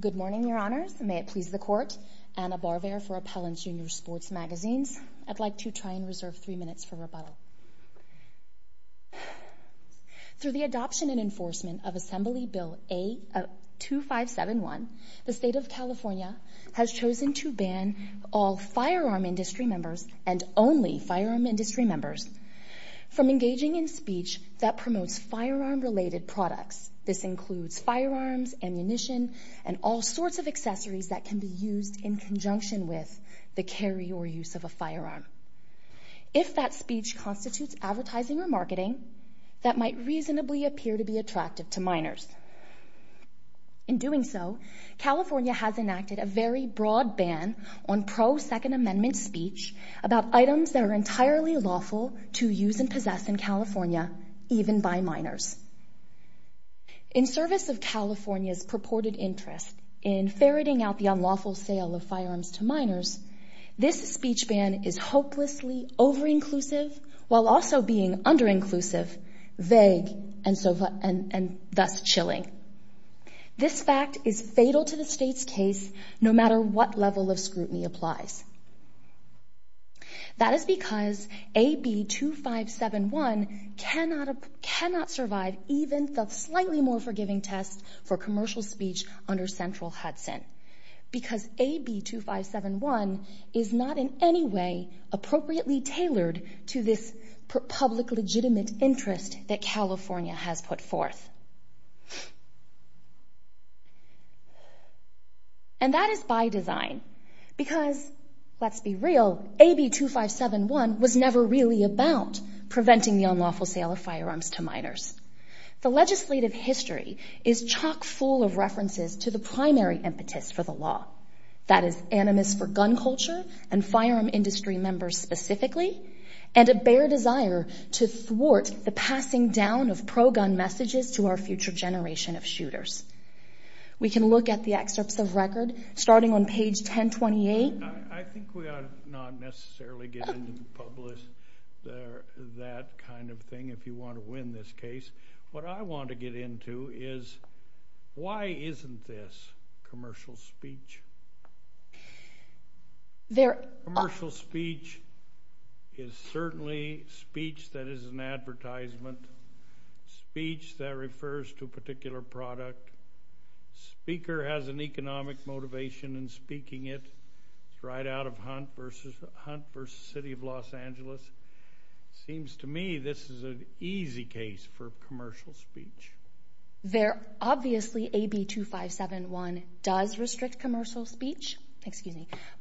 Good morning, Your Honors. May it please the Court, Anna Barvaire for Appellant's Junior Sports Magazines. I'd like to try and reserve three minutes for rebuttal. Through the adoption and enforcement of Assembly Bill 2571, the State of California has chosen to ban all firearm industry members from engaging in speech that promotes firearm-related products. This includes firearms, ammunition, and all sorts of accessories that can be used in conjunction with the carry or use of a firearm. If that speech constitutes advertising or marketing, that might reasonably appear to be attractive to minors. In doing so, California has enacted a very broad ban on pro-Second Amendment speech about items that are entirely lawful to use and possess in California, even by minors. In service of California's purported interest in ferreting out the unlawful sale of firearms to minors, this speech ban is hopelessly over-inclusive while also being under-inclusive, vague, and thus chilling. This fact is fatal to the State's case, no matter what level of scrutiny applies. That is because AB 2571 cannot survive even the slightly more forgiving test for commercial speech under Central Hudson, because AB 2571 is not in any way appropriately tailored to this public legitimate interest that California has put forth. And that is by design, because, let's be real, AB 2571 was never really about preventing the unlawful sale of firearms to minors. The legislative history is chock-full of references to the primary impetus for the law, that is, animus for gun culture and firearm industry members specifically, and a bare desire to thwart the passing down of pro-gun messages to our future generation of shooters. We can look at the excerpts of record, starting on page 1028. I think we ought to not necessarily get into the public, that kind of thing, if you want to win this case. What I want to get into is, why isn't this commercial speech? Commercial speech is certainly speech that is an advertisement, speech that refers to a particular product. The speaker has an economic motivation in speaking it. It's right out of Hunt v. City of Los Angeles. It seems to me this is an easy case for commercial speech. There obviously, AB 2571 does restrict commercial speech,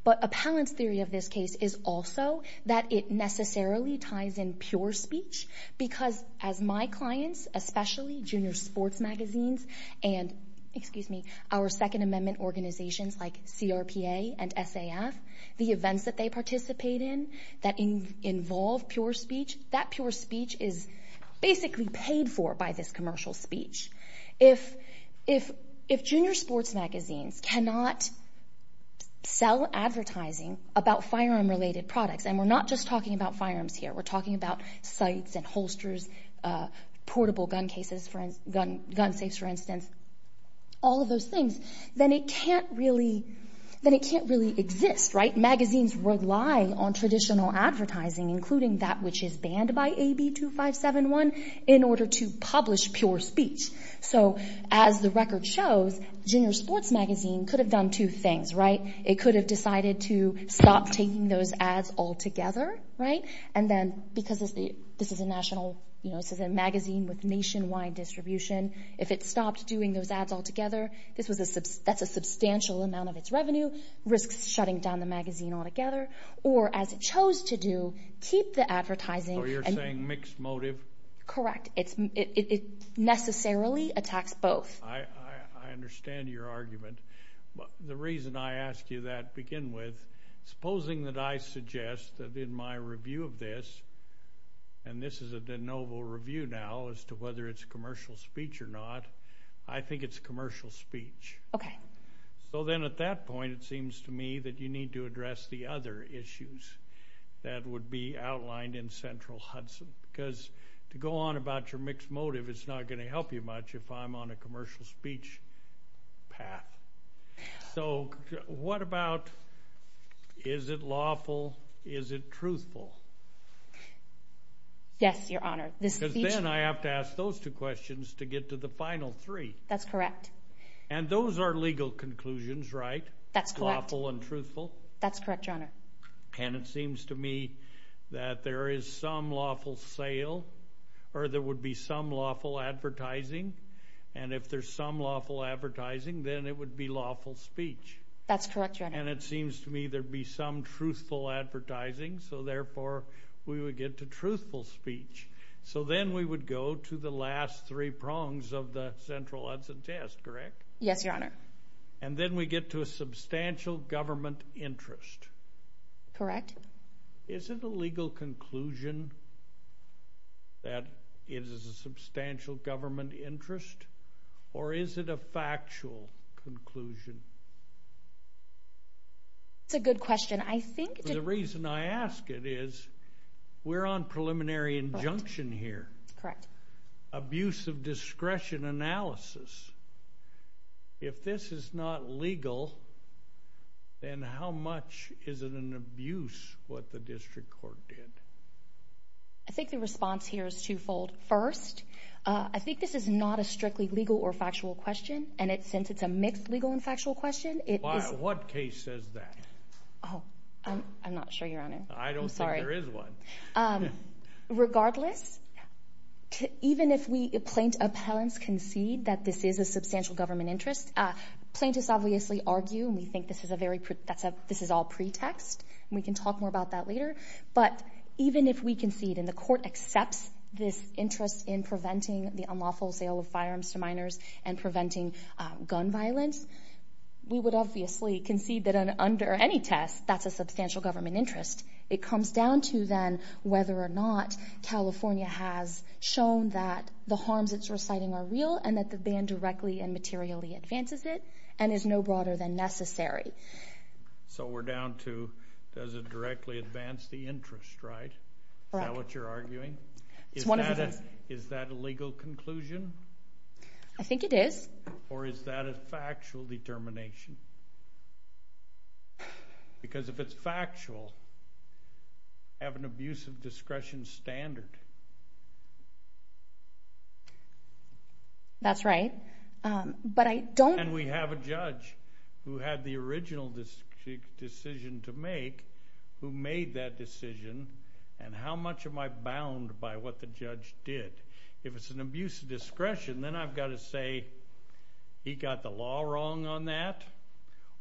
but appellant's theory of this case is also that it necessarily ties in pure speech, because as my clients, especially junior sports magazines and our Second Amendment organizations like CRPA and SAF, the events that they participate in that involve pure speech, that pure speech is basically paid for by this commercial speech. If junior sports magazines cannot sell advertising about firearm-related products, and we're not just talking about firearms here, we're talking about sights and holsters, portable gun cases, gun safes, for instance, all of those things, then it can't really exist. Magazines rely on traditional advertising, including that which is banned by AB 2571, in order to publish pure speech. As the record shows, junior sports magazine could have done two things. It could have decided to stop taking those ads altogether, and then because this is a national, this is a magazine with nationwide distribution, if it stopped doing those ads altogether, that's a substantial amount of its revenue, risks shutting down the magazine altogether, or as it chose to do, keep the advertising. So you're saying mixed motive? Correct. It necessarily attacks both. I understand your argument. The reason I ask you that to begin with, supposing that I suggest that in my review of this, and this is a de novo review now as to whether it's commercial speech or not, I think it's commercial speech. So then at that point, it seems to me that you need to address the other issues that would be outlined in Central Hudson, because to go on about your mixed motive is not going to help you much if I'm on a commercial speech path. So what about, is it lawful, is it truthful? Yes, your honor. Because then I have to ask those two questions to get to the final three. That's correct. And those are legal conclusions, right? That's correct. Lawful and truthful? That's correct, your honor. And it seems to me that there is some lawful sale, or there would be some lawful advertising, and if there's some lawful advertising, then it would be lawful speech. That's correct, your honor. And it seems to me there'd be some truthful advertising, so therefore we would get to So then we would go to the last three prongs of the Central Hudson test, correct? Yes, your honor. And then we get to a substantial government interest. Correct. Is it a legal conclusion that it is a substantial government interest, or is it a factual conclusion? That's a good question. I think... The reason I ask it is, we're on preliminary injunction here. Correct. Abuse of discretion analysis. If this is not legal, then how much is it an abuse what the district court did? I think the response here is twofold. First, I think this is not a strictly legal or factual question, and since it's a mixed legal and factual question, it is... What case says that? Oh, I'm not sure, your honor. I don't think there is one. Regardless, even if plaintiff appellants concede that this is a substantial government interest, plaintiffs obviously argue, and we think this is all pretext, and we can talk more about that later, but even if we concede and the court accepts this interest in preventing the unlawful sale of firearms to minors and preventing gun violence, we would obviously concede that under any test, that's a substantial government interest. It comes down to then whether or not California has shown that the harms it's reciting are real and that the ban directly and materially advances it, and is no broader than necessary. So we're down to, does it directly advance the interest, right? Correct. Is that what you're arguing? It's one of the things... Is that a legal conclusion? I think it is. Or is that a factual determination? Because if it's factual, I have an abuse of discretion standard. That's right. But I don't... And we have a judge who had the original decision to make, who made that decision, and how much am I bound by what the judge did? If it's an abuse of discretion, then I've got to say, he got the law wrong on that,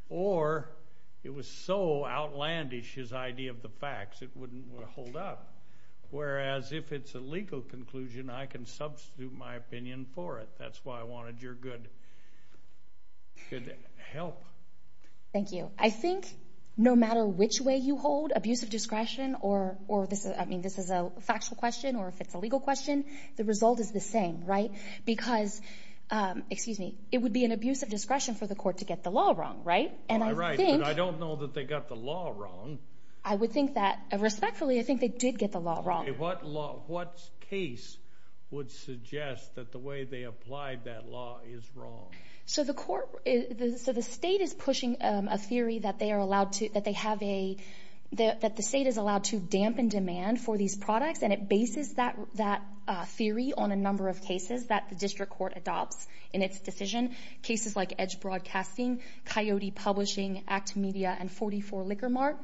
or it was so outlandish, his idea of the facts, it wouldn't hold up. Whereas if it's a legal conclusion, I can substitute my opinion for it. That's why I wanted your good help. Thank you. I think no matter which way you hold abuse of discretion, or this is a factual question or if it's a legal question, the result is the same, right? Because, excuse me, it would be an abuse of discretion for the court to get the law wrong, right? And I think... I don't know that they got the law wrong. I would think that, respectfully, I think they did get the law wrong. What case would suggest that the way they applied that law is wrong? So the court... So the state is pushing a theory that they are allowed to, that they have a... And it bases that theory on a number of cases that the district court adopts in its decision. Cases like Edge Broadcasting, Coyote Publishing, Act Media, and 44 Liquor Mart.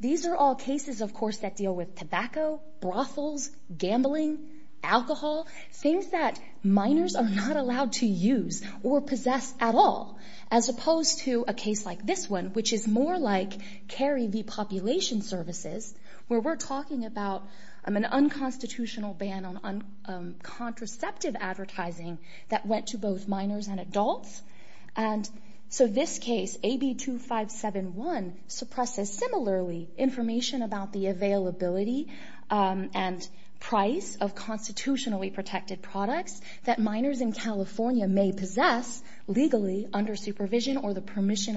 These are all cases, of course, that deal with tobacco, brothels, gambling, alcohol, things that minors are not allowed to use or possess at all. As opposed to a case like this one, which is more like Cary v. Population Services, where we're talking about an unconstitutional ban on contraceptive advertising that went to both minors and adults. And so this case, AB 2571, suppresses similarly information about the availability and price of constitutionally protected products that minors in California may possess legally under supervision or the permission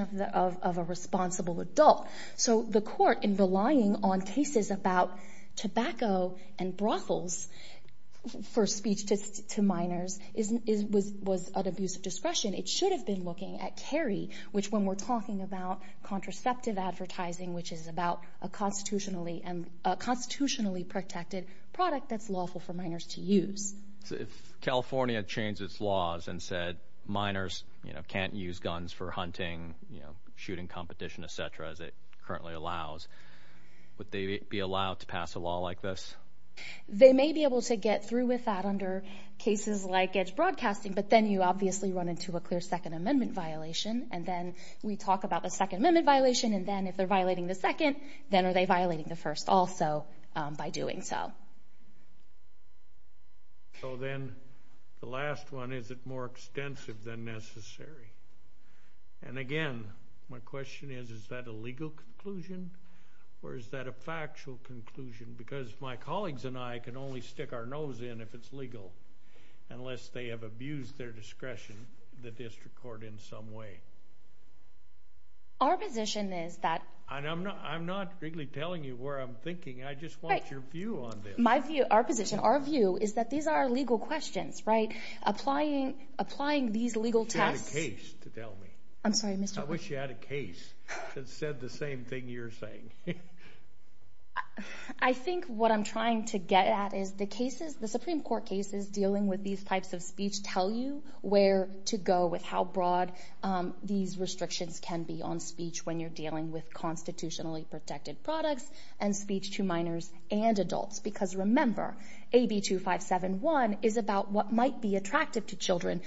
of a responsible adult. So the court, in relying on cases about tobacco and brothels for speech to minors, was at abuse of discretion. It should have been looking at Cary, which when we're talking about contraceptive advertising, which is about a constitutionally protected product that's lawful for minors to use. If California changed its laws and said minors can't use guns for hunting, shooting competition, et cetera, as it currently allows, would they be allowed to pass a law like this? They may be able to get through with that under cases like edge broadcasting, but then you obviously run into a clear Second Amendment violation, and then we talk about the Second Amendment violation, and then if they're violating the second, then are they violating the first also by doing so? So then the last one, is it more extensive than necessary? And again, my question is, is that a legal conclusion, or is that a factual conclusion? Because my colleagues and I can only stick our nose in if it's legal, unless they have abused their discretion, the district court, in some way. Our position is that... I'm not really telling you where I'm thinking, I just want your view on this. Our position, our view, is that these are legal questions, right? Applying these legal tests... I wish you had a case to tell me. I'm sorry, Mr... I wish you had a case that said the same thing you're saying. I think what I'm trying to get at is the cases, the Supreme Court cases dealing with these types of speech tell you where to go with how broad these restrictions can be on speech when you're dealing with constitutionally protected products, and speech to minors and to children,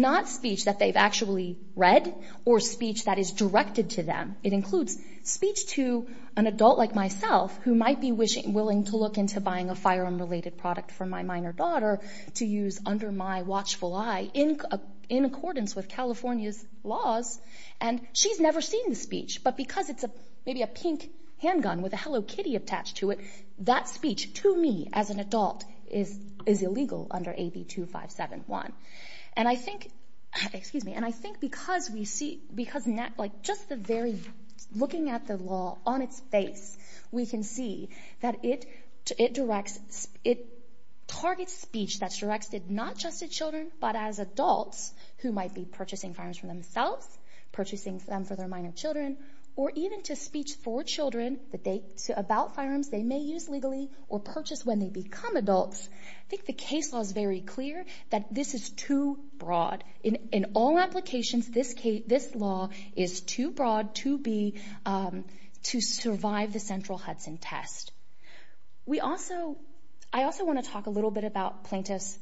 not speech that they've actually read, or speech that is directed to them. It includes speech to an adult like myself, who might be willing to look into buying a firearm-related product for my minor daughter to use under my watchful eye, in accordance with California's laws, and she's never seen the speech, but because it's maybe a pink handgun with a Hello Kitty attached to it, that speech, to me, as an adult, is illegal under AB 2571. And I think... Excuse me. And I think because we see... Because just the very... Looking at the law on its face, we can see that it directs... It targets speech that's directed not just to children, but as adults, who might be purchasing firearms for themselves, purchasing them for their minor children, or even to speech for The case law is very clear that this is too broad. In all applications, this law is too broad to be... To survive the central Hudson test. We also... I also want to talk a little bit about plaintiff's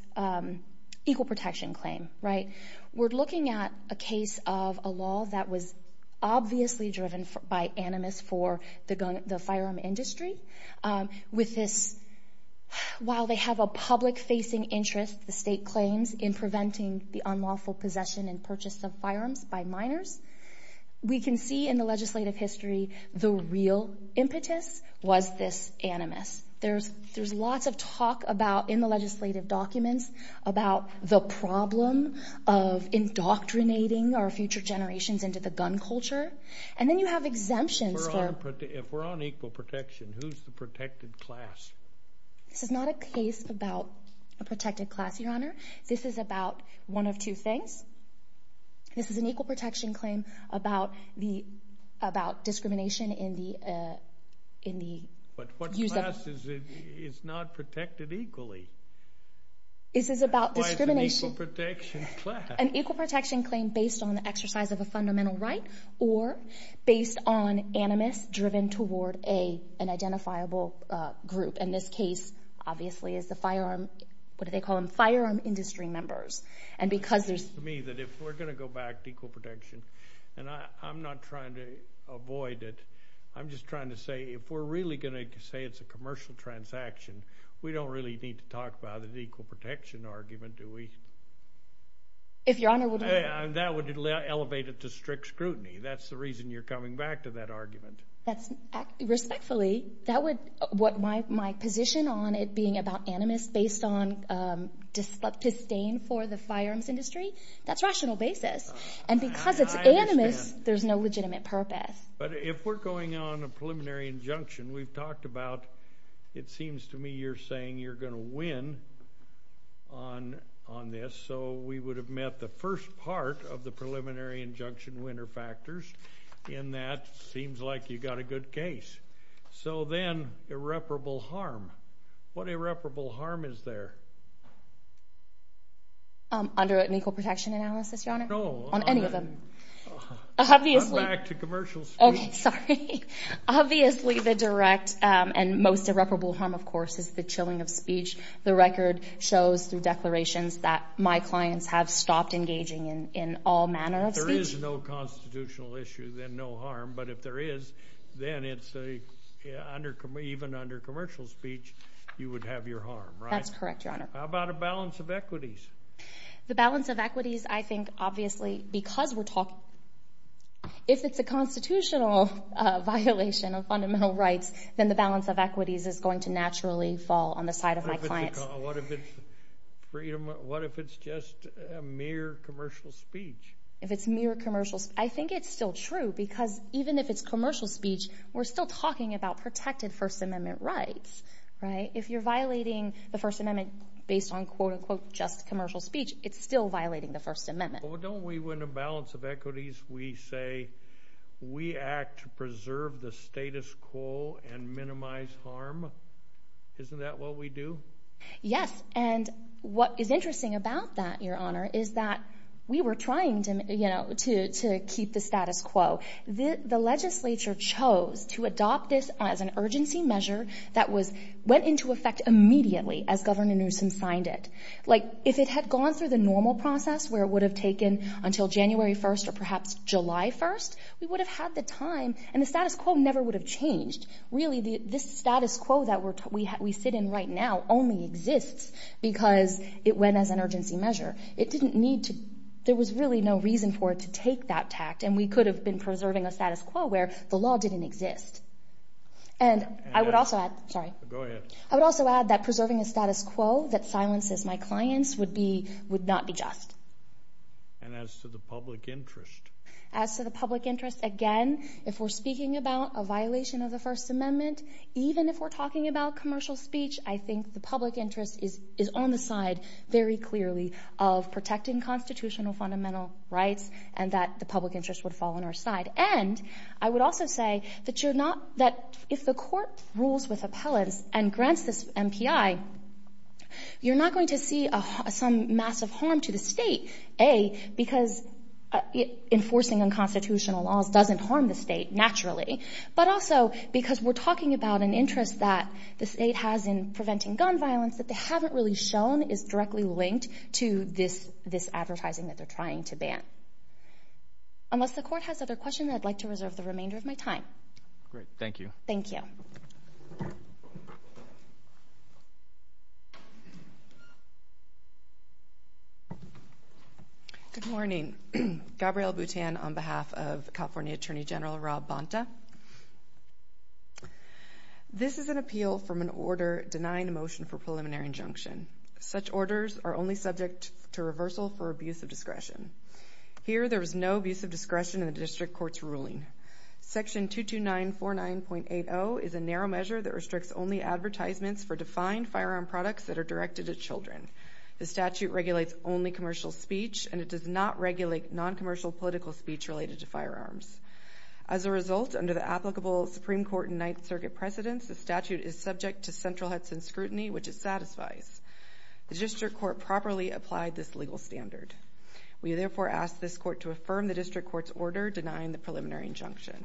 equal protection claim, right? We're looking at a case of a law that was obviously driven by animus for the firearm industry, with this... While they have a public-facing interest, the state claims, in preventing the unlawful possession and purchase of firearms by minors, we can see in the legislative history the real impetus was this animus. There's lots of talk about, in the legislative documents, about the problem of indoctrinating our future generations into the gun culture. And then you have exemptions for... Equal protection. Who's the protected class? This is not a case about a protected class, Your Honor. This is about one of two things. This is an equal protection claim about discrimination in the... But what class is not protected equally? This is about discrimination... Why is it an equal protection class? An equal protection claim based on the exercise of a fundamental right, or based on animus driven toward an identifiable group. In this case, obviously, it's the firearm, what do they call them, firearm industry members. And because there's... To me, if we're going to go back to equal protection, and I'm not trying to avoid it, I'm just trying to say, if we're really going to say it's a commercial transaction, we don't really need to talk about an equal protection argument, do we? If Your Honor would... And that would elevate it to strict scrutiny. That's the reason you're coming back to that argument. Respectfully, that would... My position on it being about animus based on disdain for the firearms industry, that's rational basis. And because it's animus, there's no legitimate purpose. But if we're going on a preliminary injunction, we've talked about... It seems to me you're saying you're going to win on this, so we would have met the first part of the preliminary injunction winner factors, and that seems like you got a good case. So then irreparable harm, what irreparable harm is there? Under an equal protection analysis, Your Honor? No. On any of them? Obviously... Come back to commercial speech. Okay. Sorry. Obviously, the direct and most irreparable harm, of course, is the chilling of speech. The record shows through declarations that my clients have stopped engaging in all manner of speech. If there is no constitutional issue, then no harm. But if there is, then it's a... Even under commercial speech, you would have your harm, right? That's correct, Your Honor. How about a balance of equities? The balance of equities, I think, obviously, because we're talking... If it's a constitutional violation of fundamental rights, then the balance of equities is going to naturally fall on the side of my clients. What if it's just a mere commercial speech? If it's mere commercial... I think it's still true, because even if it's commercial speech, we're still talking about protected First Amendment rights, right? If you're violating the First Amendment based on, quote-unquote, just commercial speech, it's still violating the First Amendment. Well, don't we, when a balance of equities, we say, we act to preserve the status quo and minimize harm? Isn't that what we do? Yes. And what is interesting about that, Your Honor, is that we were trying to keep the status quo. The legislature chose to adopt this as an urgency measure that went into effect immediately as Governor Newsom signed it. If it had gone through the normal process, where it would have taken until January 1st or perhaps July 1st, we would have had the time, and the status quo never would have changed. Really, this status quo that we sit in right now only exists because it went as an urgency measure. It didn't need to... There was really no reason for it to take that tact, and we could have been preserving a status quo where the law didn't exist. And I would also add... Sorry. Go ahead. I would also add that preserving a status quo that silences my clients would not be just. And as to the public interest? As to the public interest, again, if we're speaking about a violation of the First Amendment, even if we're talking about commercial speech, I think the public interest is on the side very clearly of protecting constitutional fundamental rights, and that the public interest would fall on our side. And I would also say that if the court rules with appellants and grants this MPI, you're not going to see some massive harm to the state, A, because enforcing unconstitutional laws doesn't harm the state, naturally, but also because we're talking about an interest that the state has in preventing gun violence that they haven't really shown is directly linked to this advertising that they're trying to ban. Unless the court has other questions, I'd like to reserve the remainder of my time. Great. Thank you. Good morning. Gabrielle Butan on behalf of California Attorney General Rob Bonta. This is an appeal from an order denying a motion for preliminary injunction. Such orders are only subject to reversal for abuse of discretion. Here there is no abuse of discretion in the district court's ruling. Section 22949.80 is a narrow measure that restricts only advertisements for defined firearm products that are directed at children. The statute regulates only commercial speech, and it does not regulate noncommercial political speech related to firearms. As a result, under the applicable Supreme Court and Ninth Circuit precedents, the statute is subject to central Hudson scrutiny, which it satisfies. The district court properly applied this legal standard. We therefore ask this court to affirm the district court's order denying the preliminary injunction.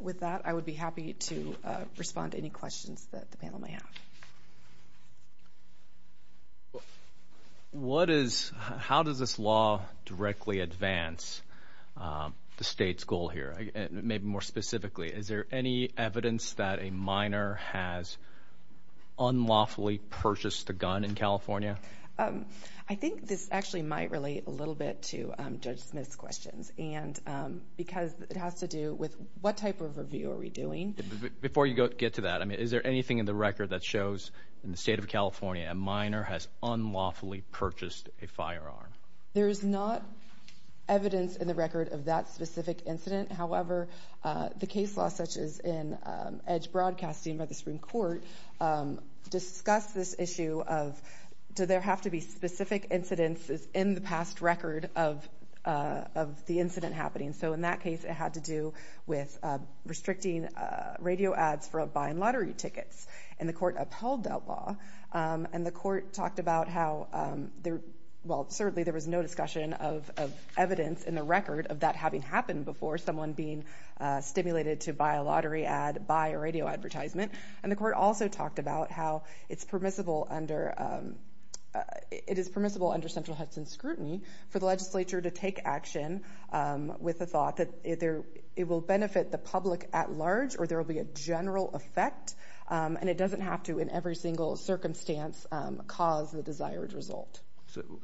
With that, I would be happy to respond to any questions that the panel may have. How does this law directly advance the state's goal here, maybe more specifically? Is there any evidence that a minor has unlawfully purchased a gun in California? I think this actually might relate a little bit to Judge Smith's questions. Because it has to do with what type of review are we doing? Before you get to that, is there anything in the record that shows in the state of California a minor has unlawfully purchased a firearm? There is not evidence in the record of that specific incident. However, the case law, such as in Edge Broadcasting by the Supreme Court, discuss this issue of do there have to be specific incidents in the past record of the incident happening? In that case, it had to do with restricting radio ads for buying lottery tickets. The court upheld that law. The court talked about how there was no discussion of evidence in the record of that having happened before someone being stimulated to buy a lottery ad, buy a radio advertisement. The court also talked about how it is permissible under central Hudson scrutiny for the legislature to take action with the thought that it will benefit the public at large or there will be a general effect. It doesn't have to, in every single circumstance, cause the desired result.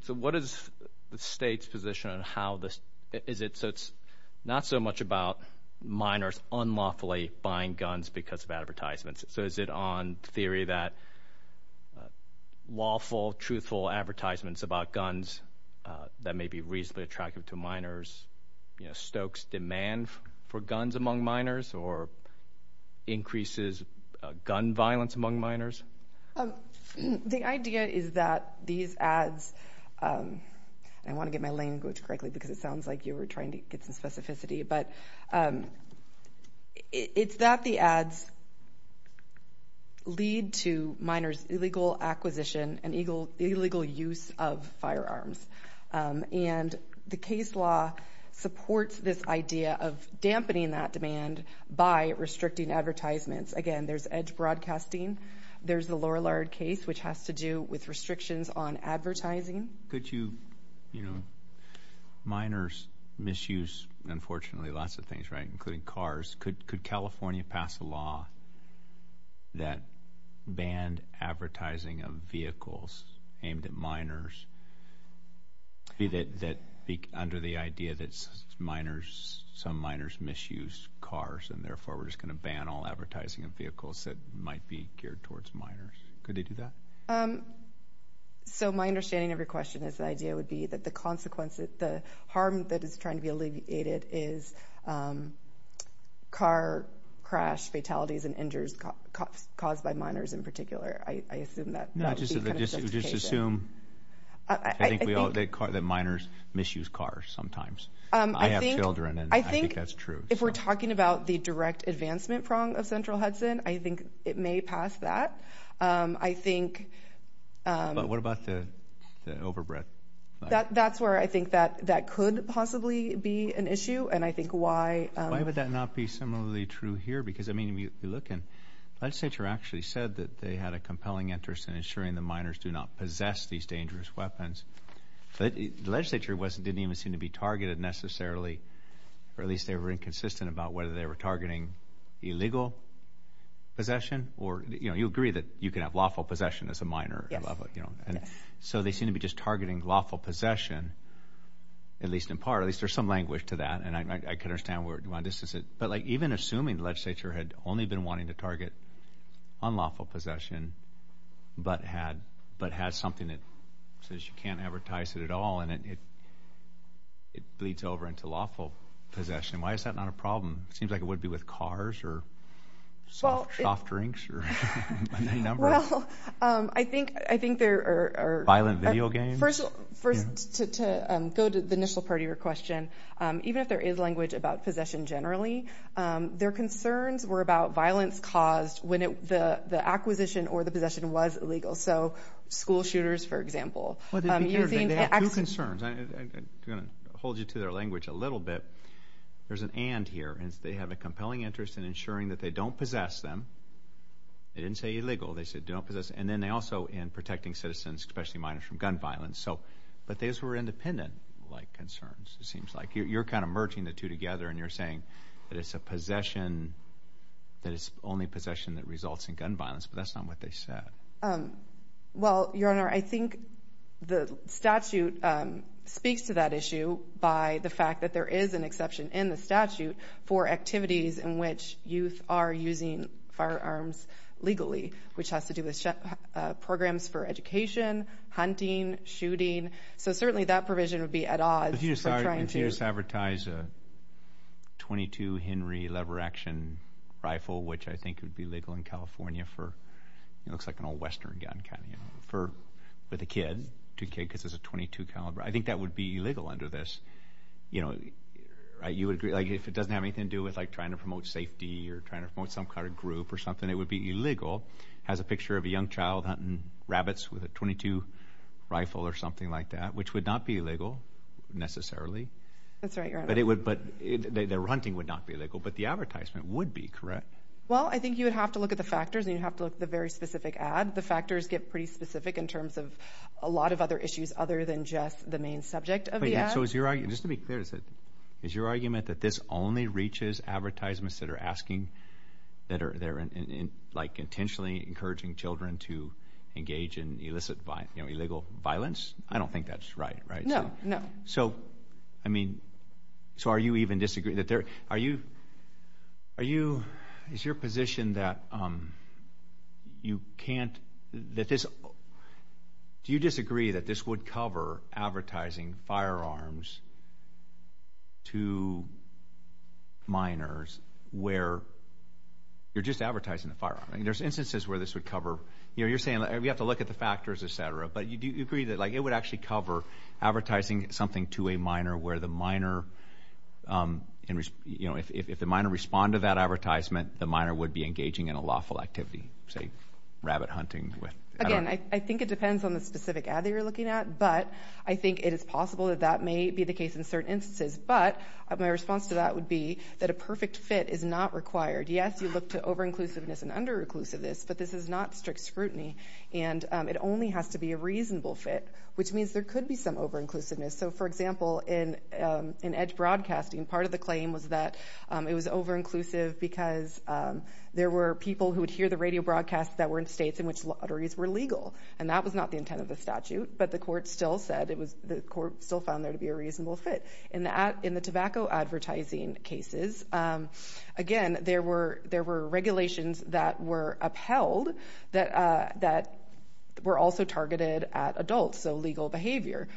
What is the state's position on how this is not so much about minors unlawfully buying advertisements, so is it on theory that lawful, truthful advertisements about guns that may be reasonably attractive to minors stokes demand for guns among minors or increases gun violence among minors? The idea is that these ads, I want to get my language correctly because it sounds like you were trying to get some specificity, but it's that the ads lead to minors' illegal acquisition and illegal use of firearms. The case law supports this idea of dampening that demand by restricting advertisements. Again, there's edge broadcasting, there's the Lorillard case, which has to do with restrictions on advertising. Could you, you know, minors misuse, unfortunately, lots of things, right, including cars. Could California pass a law that banned advertising of vehicles aimed at minors under the idea that some minors misuse cars and therefore we're just going to ban all advertising of vehicles that might be geared towards minors? Could they do that? So, my understanding of your question is the idea would be that the consequence, the harm that is trying to be alleviated is car crash fatalities and injuries caused by minors in particular. I assume that would be kind of justification. No, just assume that minors misuse cars sometimes. I have children and I think that's true. If we're talking about the direct advancement prong of Central Hudson, I think it may pass that. I think... What about the overbred? That's where I think that could possibly be an issue and I think why... Why would that not be similarly true here? Because, I mean, if you look and the legislature actually said that they had a compelling interest in ensuring the minors do not possess these dangerous weapons, but the legislature didn't even seem to be targeted necessarily, or at least they were inconsistent about whether they were targeting illegal possession, or you agree that you can have lawful possession as a minor. Yes. So, they seem to be just targeting lawful possession, at least in part, at least there's some language to that and I can understand why this is it, but even assuming the legislature had only been wanting to target unlawful possession, but had something that says you can't advertise it at all and it bleeds over into lawful possession. Why is that not a problem? It seems like it would be with cars, or soft drinks, or a number of... Well, I think there are... Violent video games? First, to go to the initial part of your question, even if there is language about possession generally, their concerns were about violence caused when the acquisition or the possession was illegal. So, school shooters, for example. Well, they have two concerns, I'm going to hold you to their language a little bit. There's an and here, they have a compelling interest in ensuring that they don't possess them. They didn't say illegal, they said don't possess, and then also in protecting citizens, especially minors, from gun violence. But those were independent-like concerns, it seems like. You're kind of merging the two together and you're saying that it's a possession, that it's only possession that results in gun violence, but that's not what they said. Well, Your Honor, I think the statute speaks to that issue by the fact that there is an exception in the statute for activities in which youth are using firearms legally, which has to do with programs for education, hunting, shooting, so certainly that provision would be at odds. If you just advertise a .22 Henry lever-action rifle, which I think would be legal in California for... It looks like an old Western gun, kind of, with a kid, because it's a .22 caliber. I think that would be illegal under this, you know, if it doesn't have anything to do with trying to promote safety or trying to promote some kind of group or something, it would be illegal. It has a picture of a young child hunting rabbits with a .22 rifle or something like that, which would not be illegal, necessarily. That's right, Your Honor. But their hunting would not be illegal, but the advertisement would be, correct? Well, I think you would have to look at the factors and you'd have to look at the very specific ad. The factors get pretty specific in terms of a lot of other issues other than just the main subject of the ad. So is your argument, just to be clear, is your argument that this only reaches advertisements that are asking, that are, like, intentionally encouraging children to engage in illegal violence? I don't think that's right, right? No, no. And so, I mean, so are you even disagreeing, that there, are you, are you, is your position that you can't, that this, do you disagree that this would cover advertising firearms to minors where you're just advertising a firearm? There's instances where this would cover, you know, you're saying we have to look at the factors, et cetera, but do you agree that, like, it would actually cover advertising something to a minor where the minor, you know, if the minor responded to that advertisement, the minor would be engaging in a lawful activity, say, rabbit hunting with, I don't know. Again, I think it depends on the specific ad that you're looking at, but I think it is possible that that may be the case in certain instances. But my response to that would be that a perfect fit is not required. Yes, you look to over-inclusiveness and under-inclusiveness, but this is not strict scrutiny. And it only has to be a reasonable fit, which means there could be some over-inclusiveness. So, for example, in Edge Broadcasting, part of the claim was that it was over-inclusive because there were people who would hear the radio broadcasts that were in states in which lotteries were legal. And that was not the intent of the statute, but the court still said it was, the court still found there to be a reasonable fit. And in the tobacco advertising cases, again, there were, there were regulations that were also targeted at adults, so legal behavior,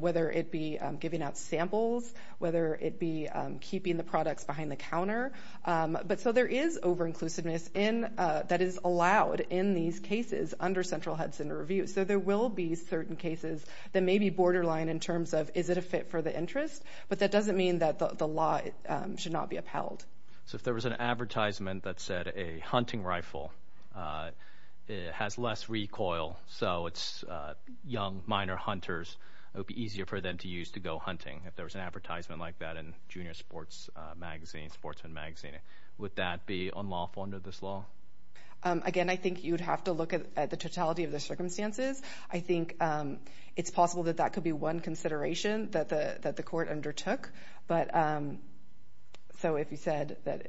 whether it be giving out samples, whether it be keeping the products behind the counter. But so there is over-inclusiveness in, that is allowed in these cases under Central Hudson Review. So there will be certain cases that may be borderline in terms of, is it a fit for the interest? But that doesn't mean that the law should not be upheld. So if there was an advertisement that said a hunting rifle has less recoil, so it's young, minor hunters, it would be easier for them to use to go hunting. If there was an advertisement like that in Junior Sports Magazine, Sportsman Magazine, would that be unlawful under this law? Again, I think you'd have to look at the totality of the circumstances. I think it's possible that that could be one consideration that the court undertook. But so if you said that,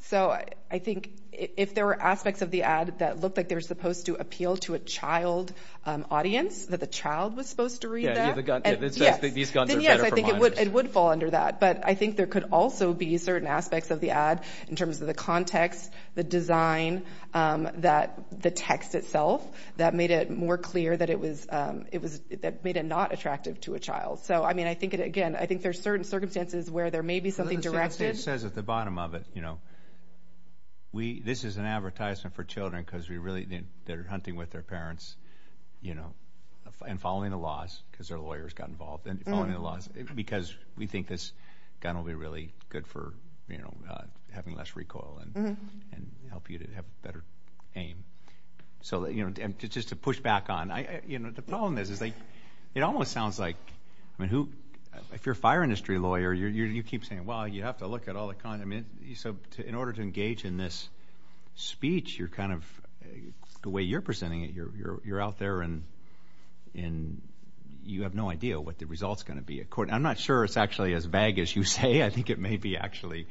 so I think if there were aspects of the ad that looked like they were supposed to appeal to a child audience, that the child was supposed to read that. Yeah, the gun, these guns are better for minors. Then yes, I think it would fall under that. But I think there could also be certain aspects of the ad in terms of the context, the design, that the text itself, that made it more clear that it was, it was, that made it not attractive to a child. So I mean, I think it again, I think there's certain circumstances where there may be something directed. It says at the bottom of it, you know, we, this is an advertisement for children because we really, they're hunting with their parents, you know, and following the laws because their lawyers got involved and following the laws because we think this gun will be really good for, you know, having less recoil and help you to have a better aim. So, you know, just to push back on, I, you know, the problem is, is like, it almost sounds like, I mean, who, if you're a fire industry lawyer, you're, you keep saying, well, you have to look at all the, I mean, so in order to engage in this speech, you're kind of, the way you're presenting it, you're, you're, you're out there and, and you have no idea what the result's going to be at court. I'm not sure it's actually as vague as you say. I think it may be actually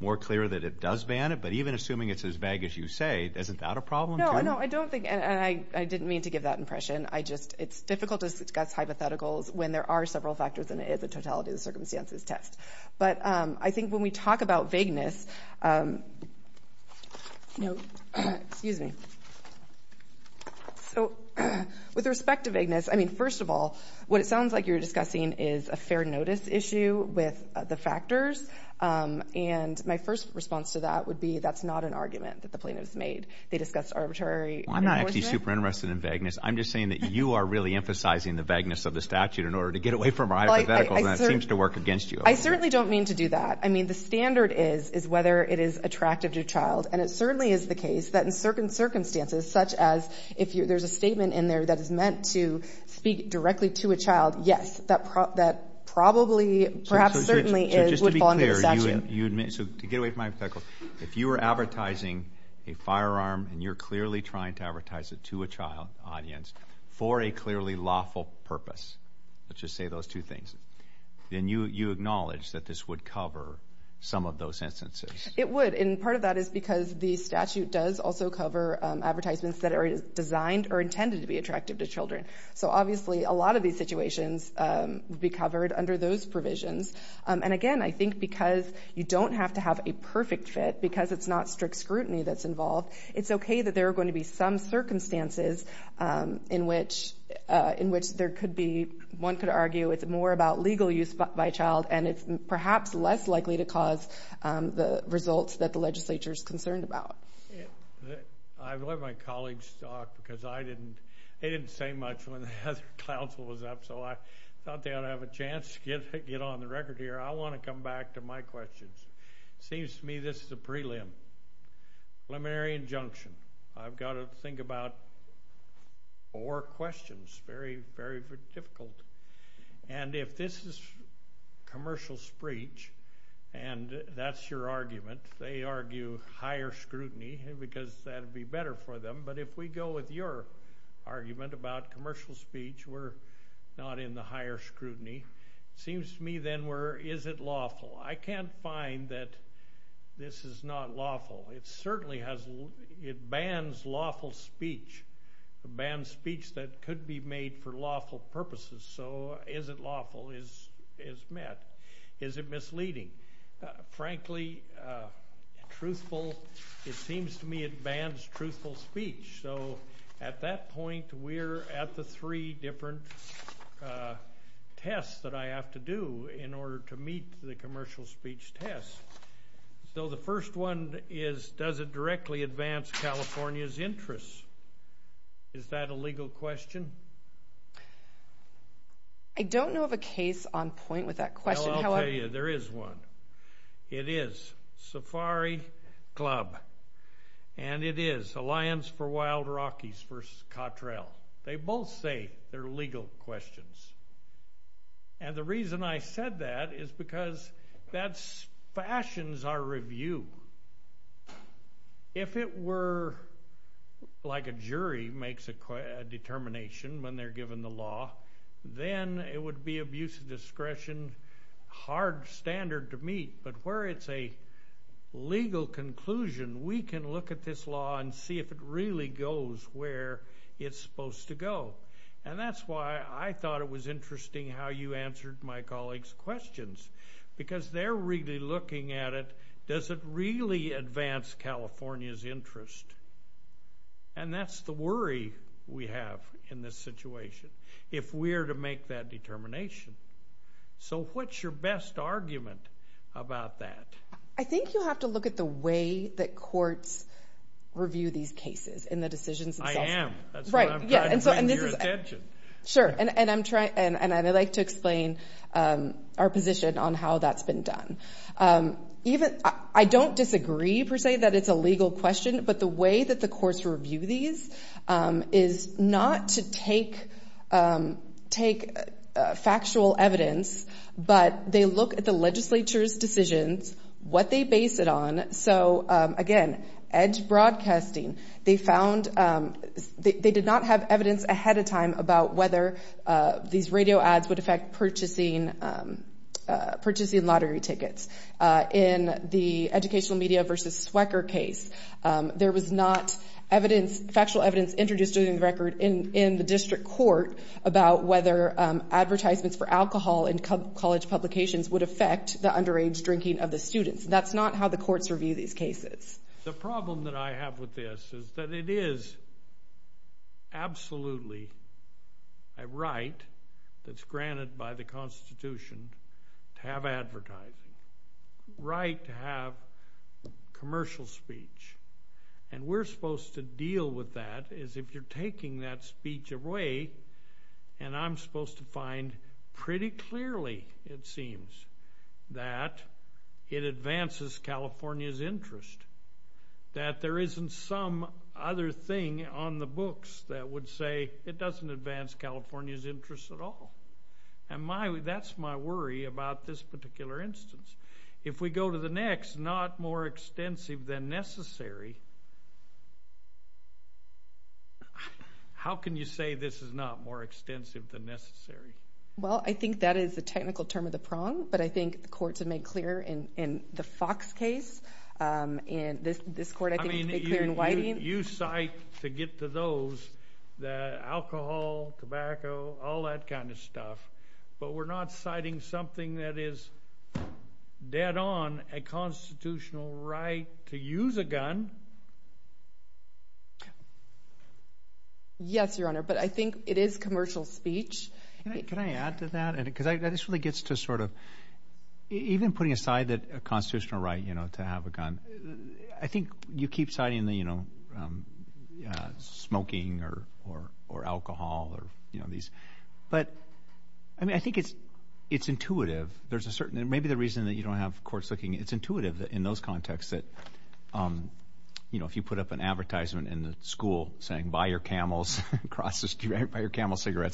more clear that it does ban it, but even assuming it's as vague as you say, it's not a problem. No, no, I don't think, and I, I didn't mean to give that impression. I just, it's difficult to discuss hypotheticals when there are several factors and it is a totality of the circumstances test. But I think when we talk about vagueness, you know, excuse me. So with respect to vagueness, I mean, first of all, what it sounds like you're discussing is a fair notice issue with the factors. And my first response to that would be, that's not an argument that the plaintiff's made. They discussed arbitrary enforcement. I'm not actually super interested in vagueness. I'm just saying that you are really emphasizing the vagueness of the statute in order to get away from our hypotheticals and that seems to work against you. I certainly don't mean to do that. I mean, the standard is, is whether it is attractive to a child. And it certainly is the case that in certain circumstances, such as if there's a statement in there that is meant to speak directly to a child, yes, that probably, perhaps certainly is, would fall under the statute. So to get away from my hypothetical, if you were advertising a firearm and you're clearly trying to advertise it to a child audience for a clearly lawful purpose, let's just say those two things, then you acknowledge that this would cover some of those instances. It would. And part of that is because the statute does also cover advertisements that are designed or intended to be attractive to children. So obviously, a lot of these situations would be covered under those provisions. And again, I think because you don't have to have a perfect fit, because it's not strict scrutiny that's involved, it's okay that there are going to be some circumstances in which there could be, one could argue, it's more about legal use by a child and it's perhaps less likely to cause the results that the legislature is concerned about. I've let my colleagues talk because I didn't, they didn't say much when the other counsel was up, so I thought they ought to have a chance to get on the record here. I want to come back to my questions. It seems to me this is a preliminary injunction. I've got to think about four questions, very, very difficult. And if this is commercial speech, and that's your argument, they argue higher scrutiny because that would be better for them. But if we go with your argument about commercial speech, we're not in the higher scrutiny. It seems to me then we're, is it lawful? I can't find that this is not lawful. It certainly has, it bans lawful speech. It bans speech that could be made for lawful purposes. So is it lawful is met. Is it misleading? Frankly, truthful, it seems to me it bans truthful speech. So at that point, we're at the three different tests that I have to do in order to meet the commercial speech test. So the first one is, does it directly advance California's interests? Is that a legal question? I don't know of a case on point with that question. I'll tell you, there is one. It is Safari Club. And it is Alliance for Wild Rockies versus Cottrell. They both say they're legal questions. And the reason I said that is because that fashions our review. If it were like a jury makes a determination when they're given the law, then it would be abuse of discretion, hard standard to meet. But where it's a legal conclusion, we can look at this law and see if it really goes where it's supposed to go. And that's why I thought it was interesting how you answered my colleagues' questions. Because they're really looking at it, does it really advance California's interest? And that's the worry we have in this situation. If we're to make that determination. So what's your best argument about that? I think you have to look at the way that courts review these cases and the decisions themselves. I am. That's what I'm trying to bring to your attention. Sure, and I'd like to explain our position on how that's been done. I don't disagree, per se, that it's a legal question. But the way that the courts review these is not to take factual evidence, but they look at the legislature's decisions, what they base it on. So again, Edge Broadcasting, they did not have evidence ahead of time about whether these radio ads would affect purchasing lottery tickets. In the Educational Media v. Swecker case, there was not factual evidence introduced during the record in the district court about whether advertisements for alcohol in college publications would affect the underage drinking of the students. That's not how the courts review these cases. The problem that I have with this is that it is absolutely a right that's granted by the Constitution to have advertising, a right to have commercial speech. And we're supposed to deal with that as if you're taking that speech away, and I'm supposed to find pretty clearly, it seems, that it advances California's interest, that there isn't some other thing on the books that would say it doesn't advance California's interest at all. And that's my worry about this particular instance. If we go to the next, not more extensive than necessary, how can you say this is not more extensive than necessary? Well, I think that is the technical term of the prong, but I think the courts have made clear in the Fox case, and this court, I think, made clear in Whiting. You cite, to get to those, alcohol, tobacco, all that kind of stuff, but we're not citing something that is dead on a constitutional right to use a gun. Yes, Your Honor, but I think it is commercial speech. Can I add to that? Because that just really gets to sort of, even putting aside that constitutional right to have a gun, I think you keep citing the smoking or alcohol or these. But I think it's intuitive. Maybe the reason that you don't have courts looking, it's intuitive in those contexts that if you put up an advertisement in the school saying, buy your camels cigarettes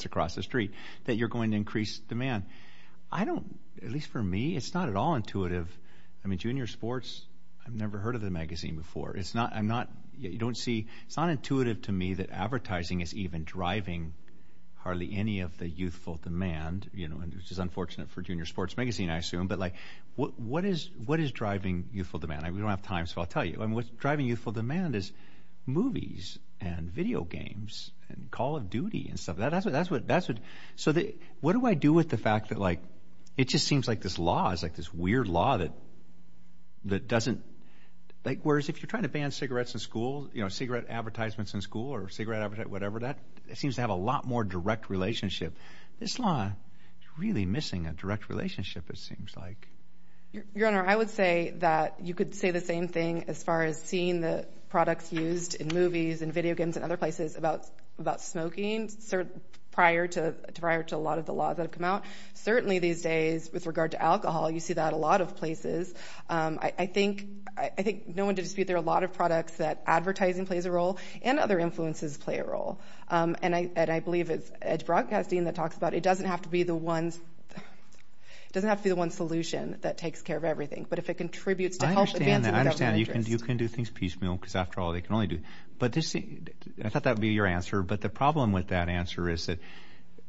across the street, that you're going to increase demand. I don't, at least for me, it's not at all intuitive. I mean, junior sports, I've never heard of the magazine before. It's not, I'm not, you don't see, it's not intuitive to me that advertising is even driving hardly any of the youthful demand, which is unfortunate for junior sports magazine, I assume. But like, what is driving youthful demand? We don't have time, so I'll tell you. I mean, what's driving youthful demand is movies and video games and Call of Duty and stuff. That's what, so what do I do with the fact that like, it just seems like this law is like this weird law that, that doesn't, like, whereas if you're trying to ban cigarettes in school, you know, cigarette advertisements in school or cigarette advertisement, whatever, that seems to have a lot more direct relationship. This law is really missing a direct relationship, it seems like. Your Honor, I would say that you could say the same thing as far as seeing the products used in movies and video games and other places about, about smoking prior to, prior to a lot of the laws that have come out. Certainly these days, with regard to alcohol, you see that a lot of places. I think, I think, no one to dispute, there are a lot of products that advertising plays a role and other influences play a role. And I, and I believe it's Edge Broadcasting that talks about it doesn't have to be the ones, it doesn't have to be the one solution that takes care of everything. But if it contributes to help advancing that interest. I understand, I understand, you can, you can do things piecemeal, because after all, they can only do, but this, I thought that would be your answer. But the problem with that answer is that,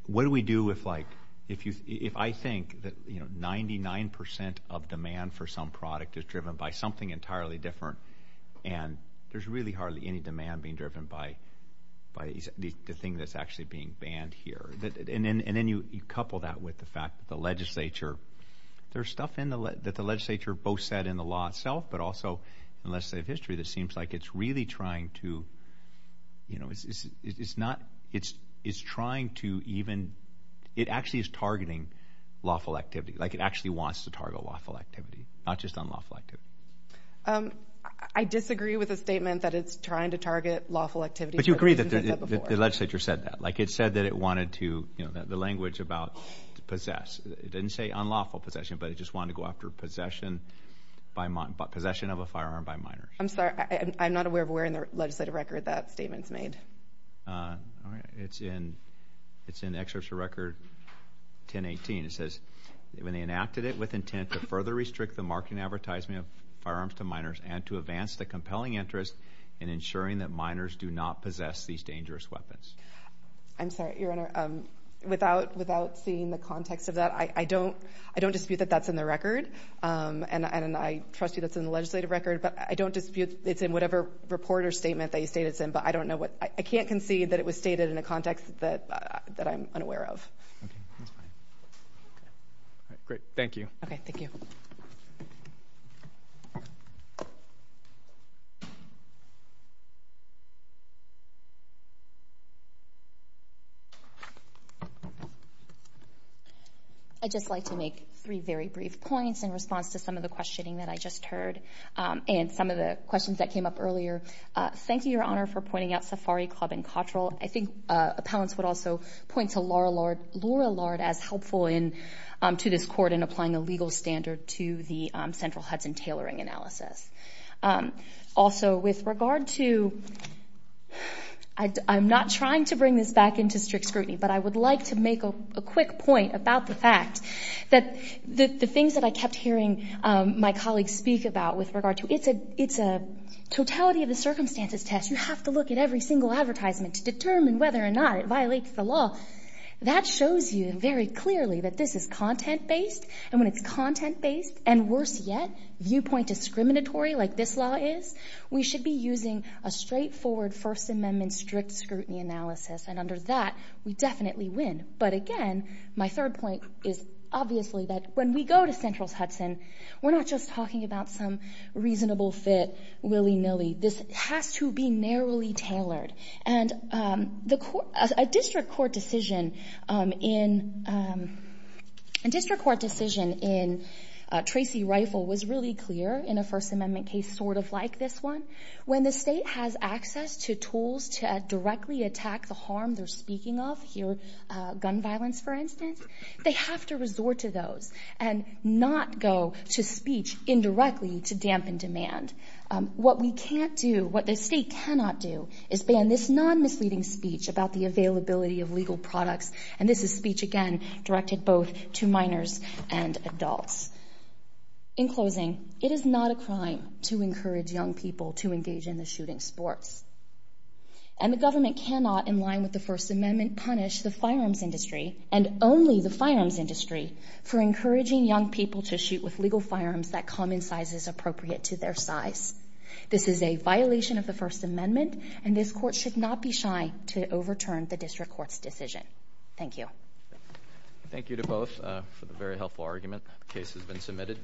what do we do if like, if you, if I think that, you know, 99% of demand for some product is driven by something entirely different. And there's really hardly any demand being driven by, by the thing that's actually being banned here. And then, and then you, you couple that with the fact that the legislature, there's stuff in the, that the legislature both said in the law itself, but also in legislative history that seems like it's really trying to, you know, it's, it's not, it's, it's trying to even, it actually is targeting lawful activity, like it actually wants to target lawful activity, not just unlawful activity. I disagree with the statement that it's trying to target lawful activity. But you agree that the legislature said that, like it said that it wanted to, you know, the language about possess, it didn't say unlawful possession, but it just wanted to go after possession by, possession of a firearm by minors. I'm sorry, I'm not aware of where in the legislative record that statement's made. It's in, it's in Excerpt from Record 1018. It says, when they enacted it with intent to further restrict the marketing advertisement of firearms to minors and to advance the compelling interest in ensuring that minors do not possess these dangerous weapons. I'm sorry, Your Honor, without, without seeing the context of that, I don't, I don't dispute that that's in the record. And, and I trust you that's in the legislative record. But I don't dispute it's in whatever report or statement that you state it's in, but I don't know what, I can't concede that it was stated in a context that, that I'm unaware of. Great, thank you. Okay, thank you. I'd just like to make three very brief points in response to some of the questioning that I just heard and some of the questions that came up earlier. Thank you, Your Honor, for pointing out Safari Club and Cottrell. I think appellants would also point to Laura Lard, Laura Lard as helpful in, to this court in applying a legal standard to the central Hudson tailoring analysis. Also, with regard to, I'm not trying to bring this back into strict scrutiny, but I would like to make a quick point about the fact that the things that I kept hearing my colleagues speak about with regard to, it's a, it's a totality of the circumstances test. You have to look at every single advertisement to determine whether or not it violates the law. That shows you very clearly that this is content based. And when it's content based, and worse yet, viewpoint discriminatory like this law is, we should be using a straightforward First Amendment strict scrutiny analysis. And under that, we definitely win. But again, my third point is obviously that when we go to Central's Hudson, we're not just talking about some reasonable fit willy-nilly. This has to be narrowly tailored. And the court, a district court decision in, a district court decision in Tracy Rifle was really clear in a First Amendment case sort of like this one. When the state has access to tools to directly attack the harm they're speaking of, here, gun violence for instance, they have to resort to those and not go to speech indirectly to dampen demand. What we can't do, what the state cannot do is ban this non-misleading speech about the availability of legal products. And this is speech, again, directed both to minors and adults. In closing, it is not a crime to encourage young people to engage in the shooting sports. And the government cannot, in line with the First Amendment, punish the firearms industry and only the firearms industry for encouraging young people to shoot with legal firearms that come in sizes appropriate to their size. This is a violation of the First Amendment, and this court should not be shy to overturn the district court's decision. Thank you. Thank you to both for the very helpful argument. The case has been submitted.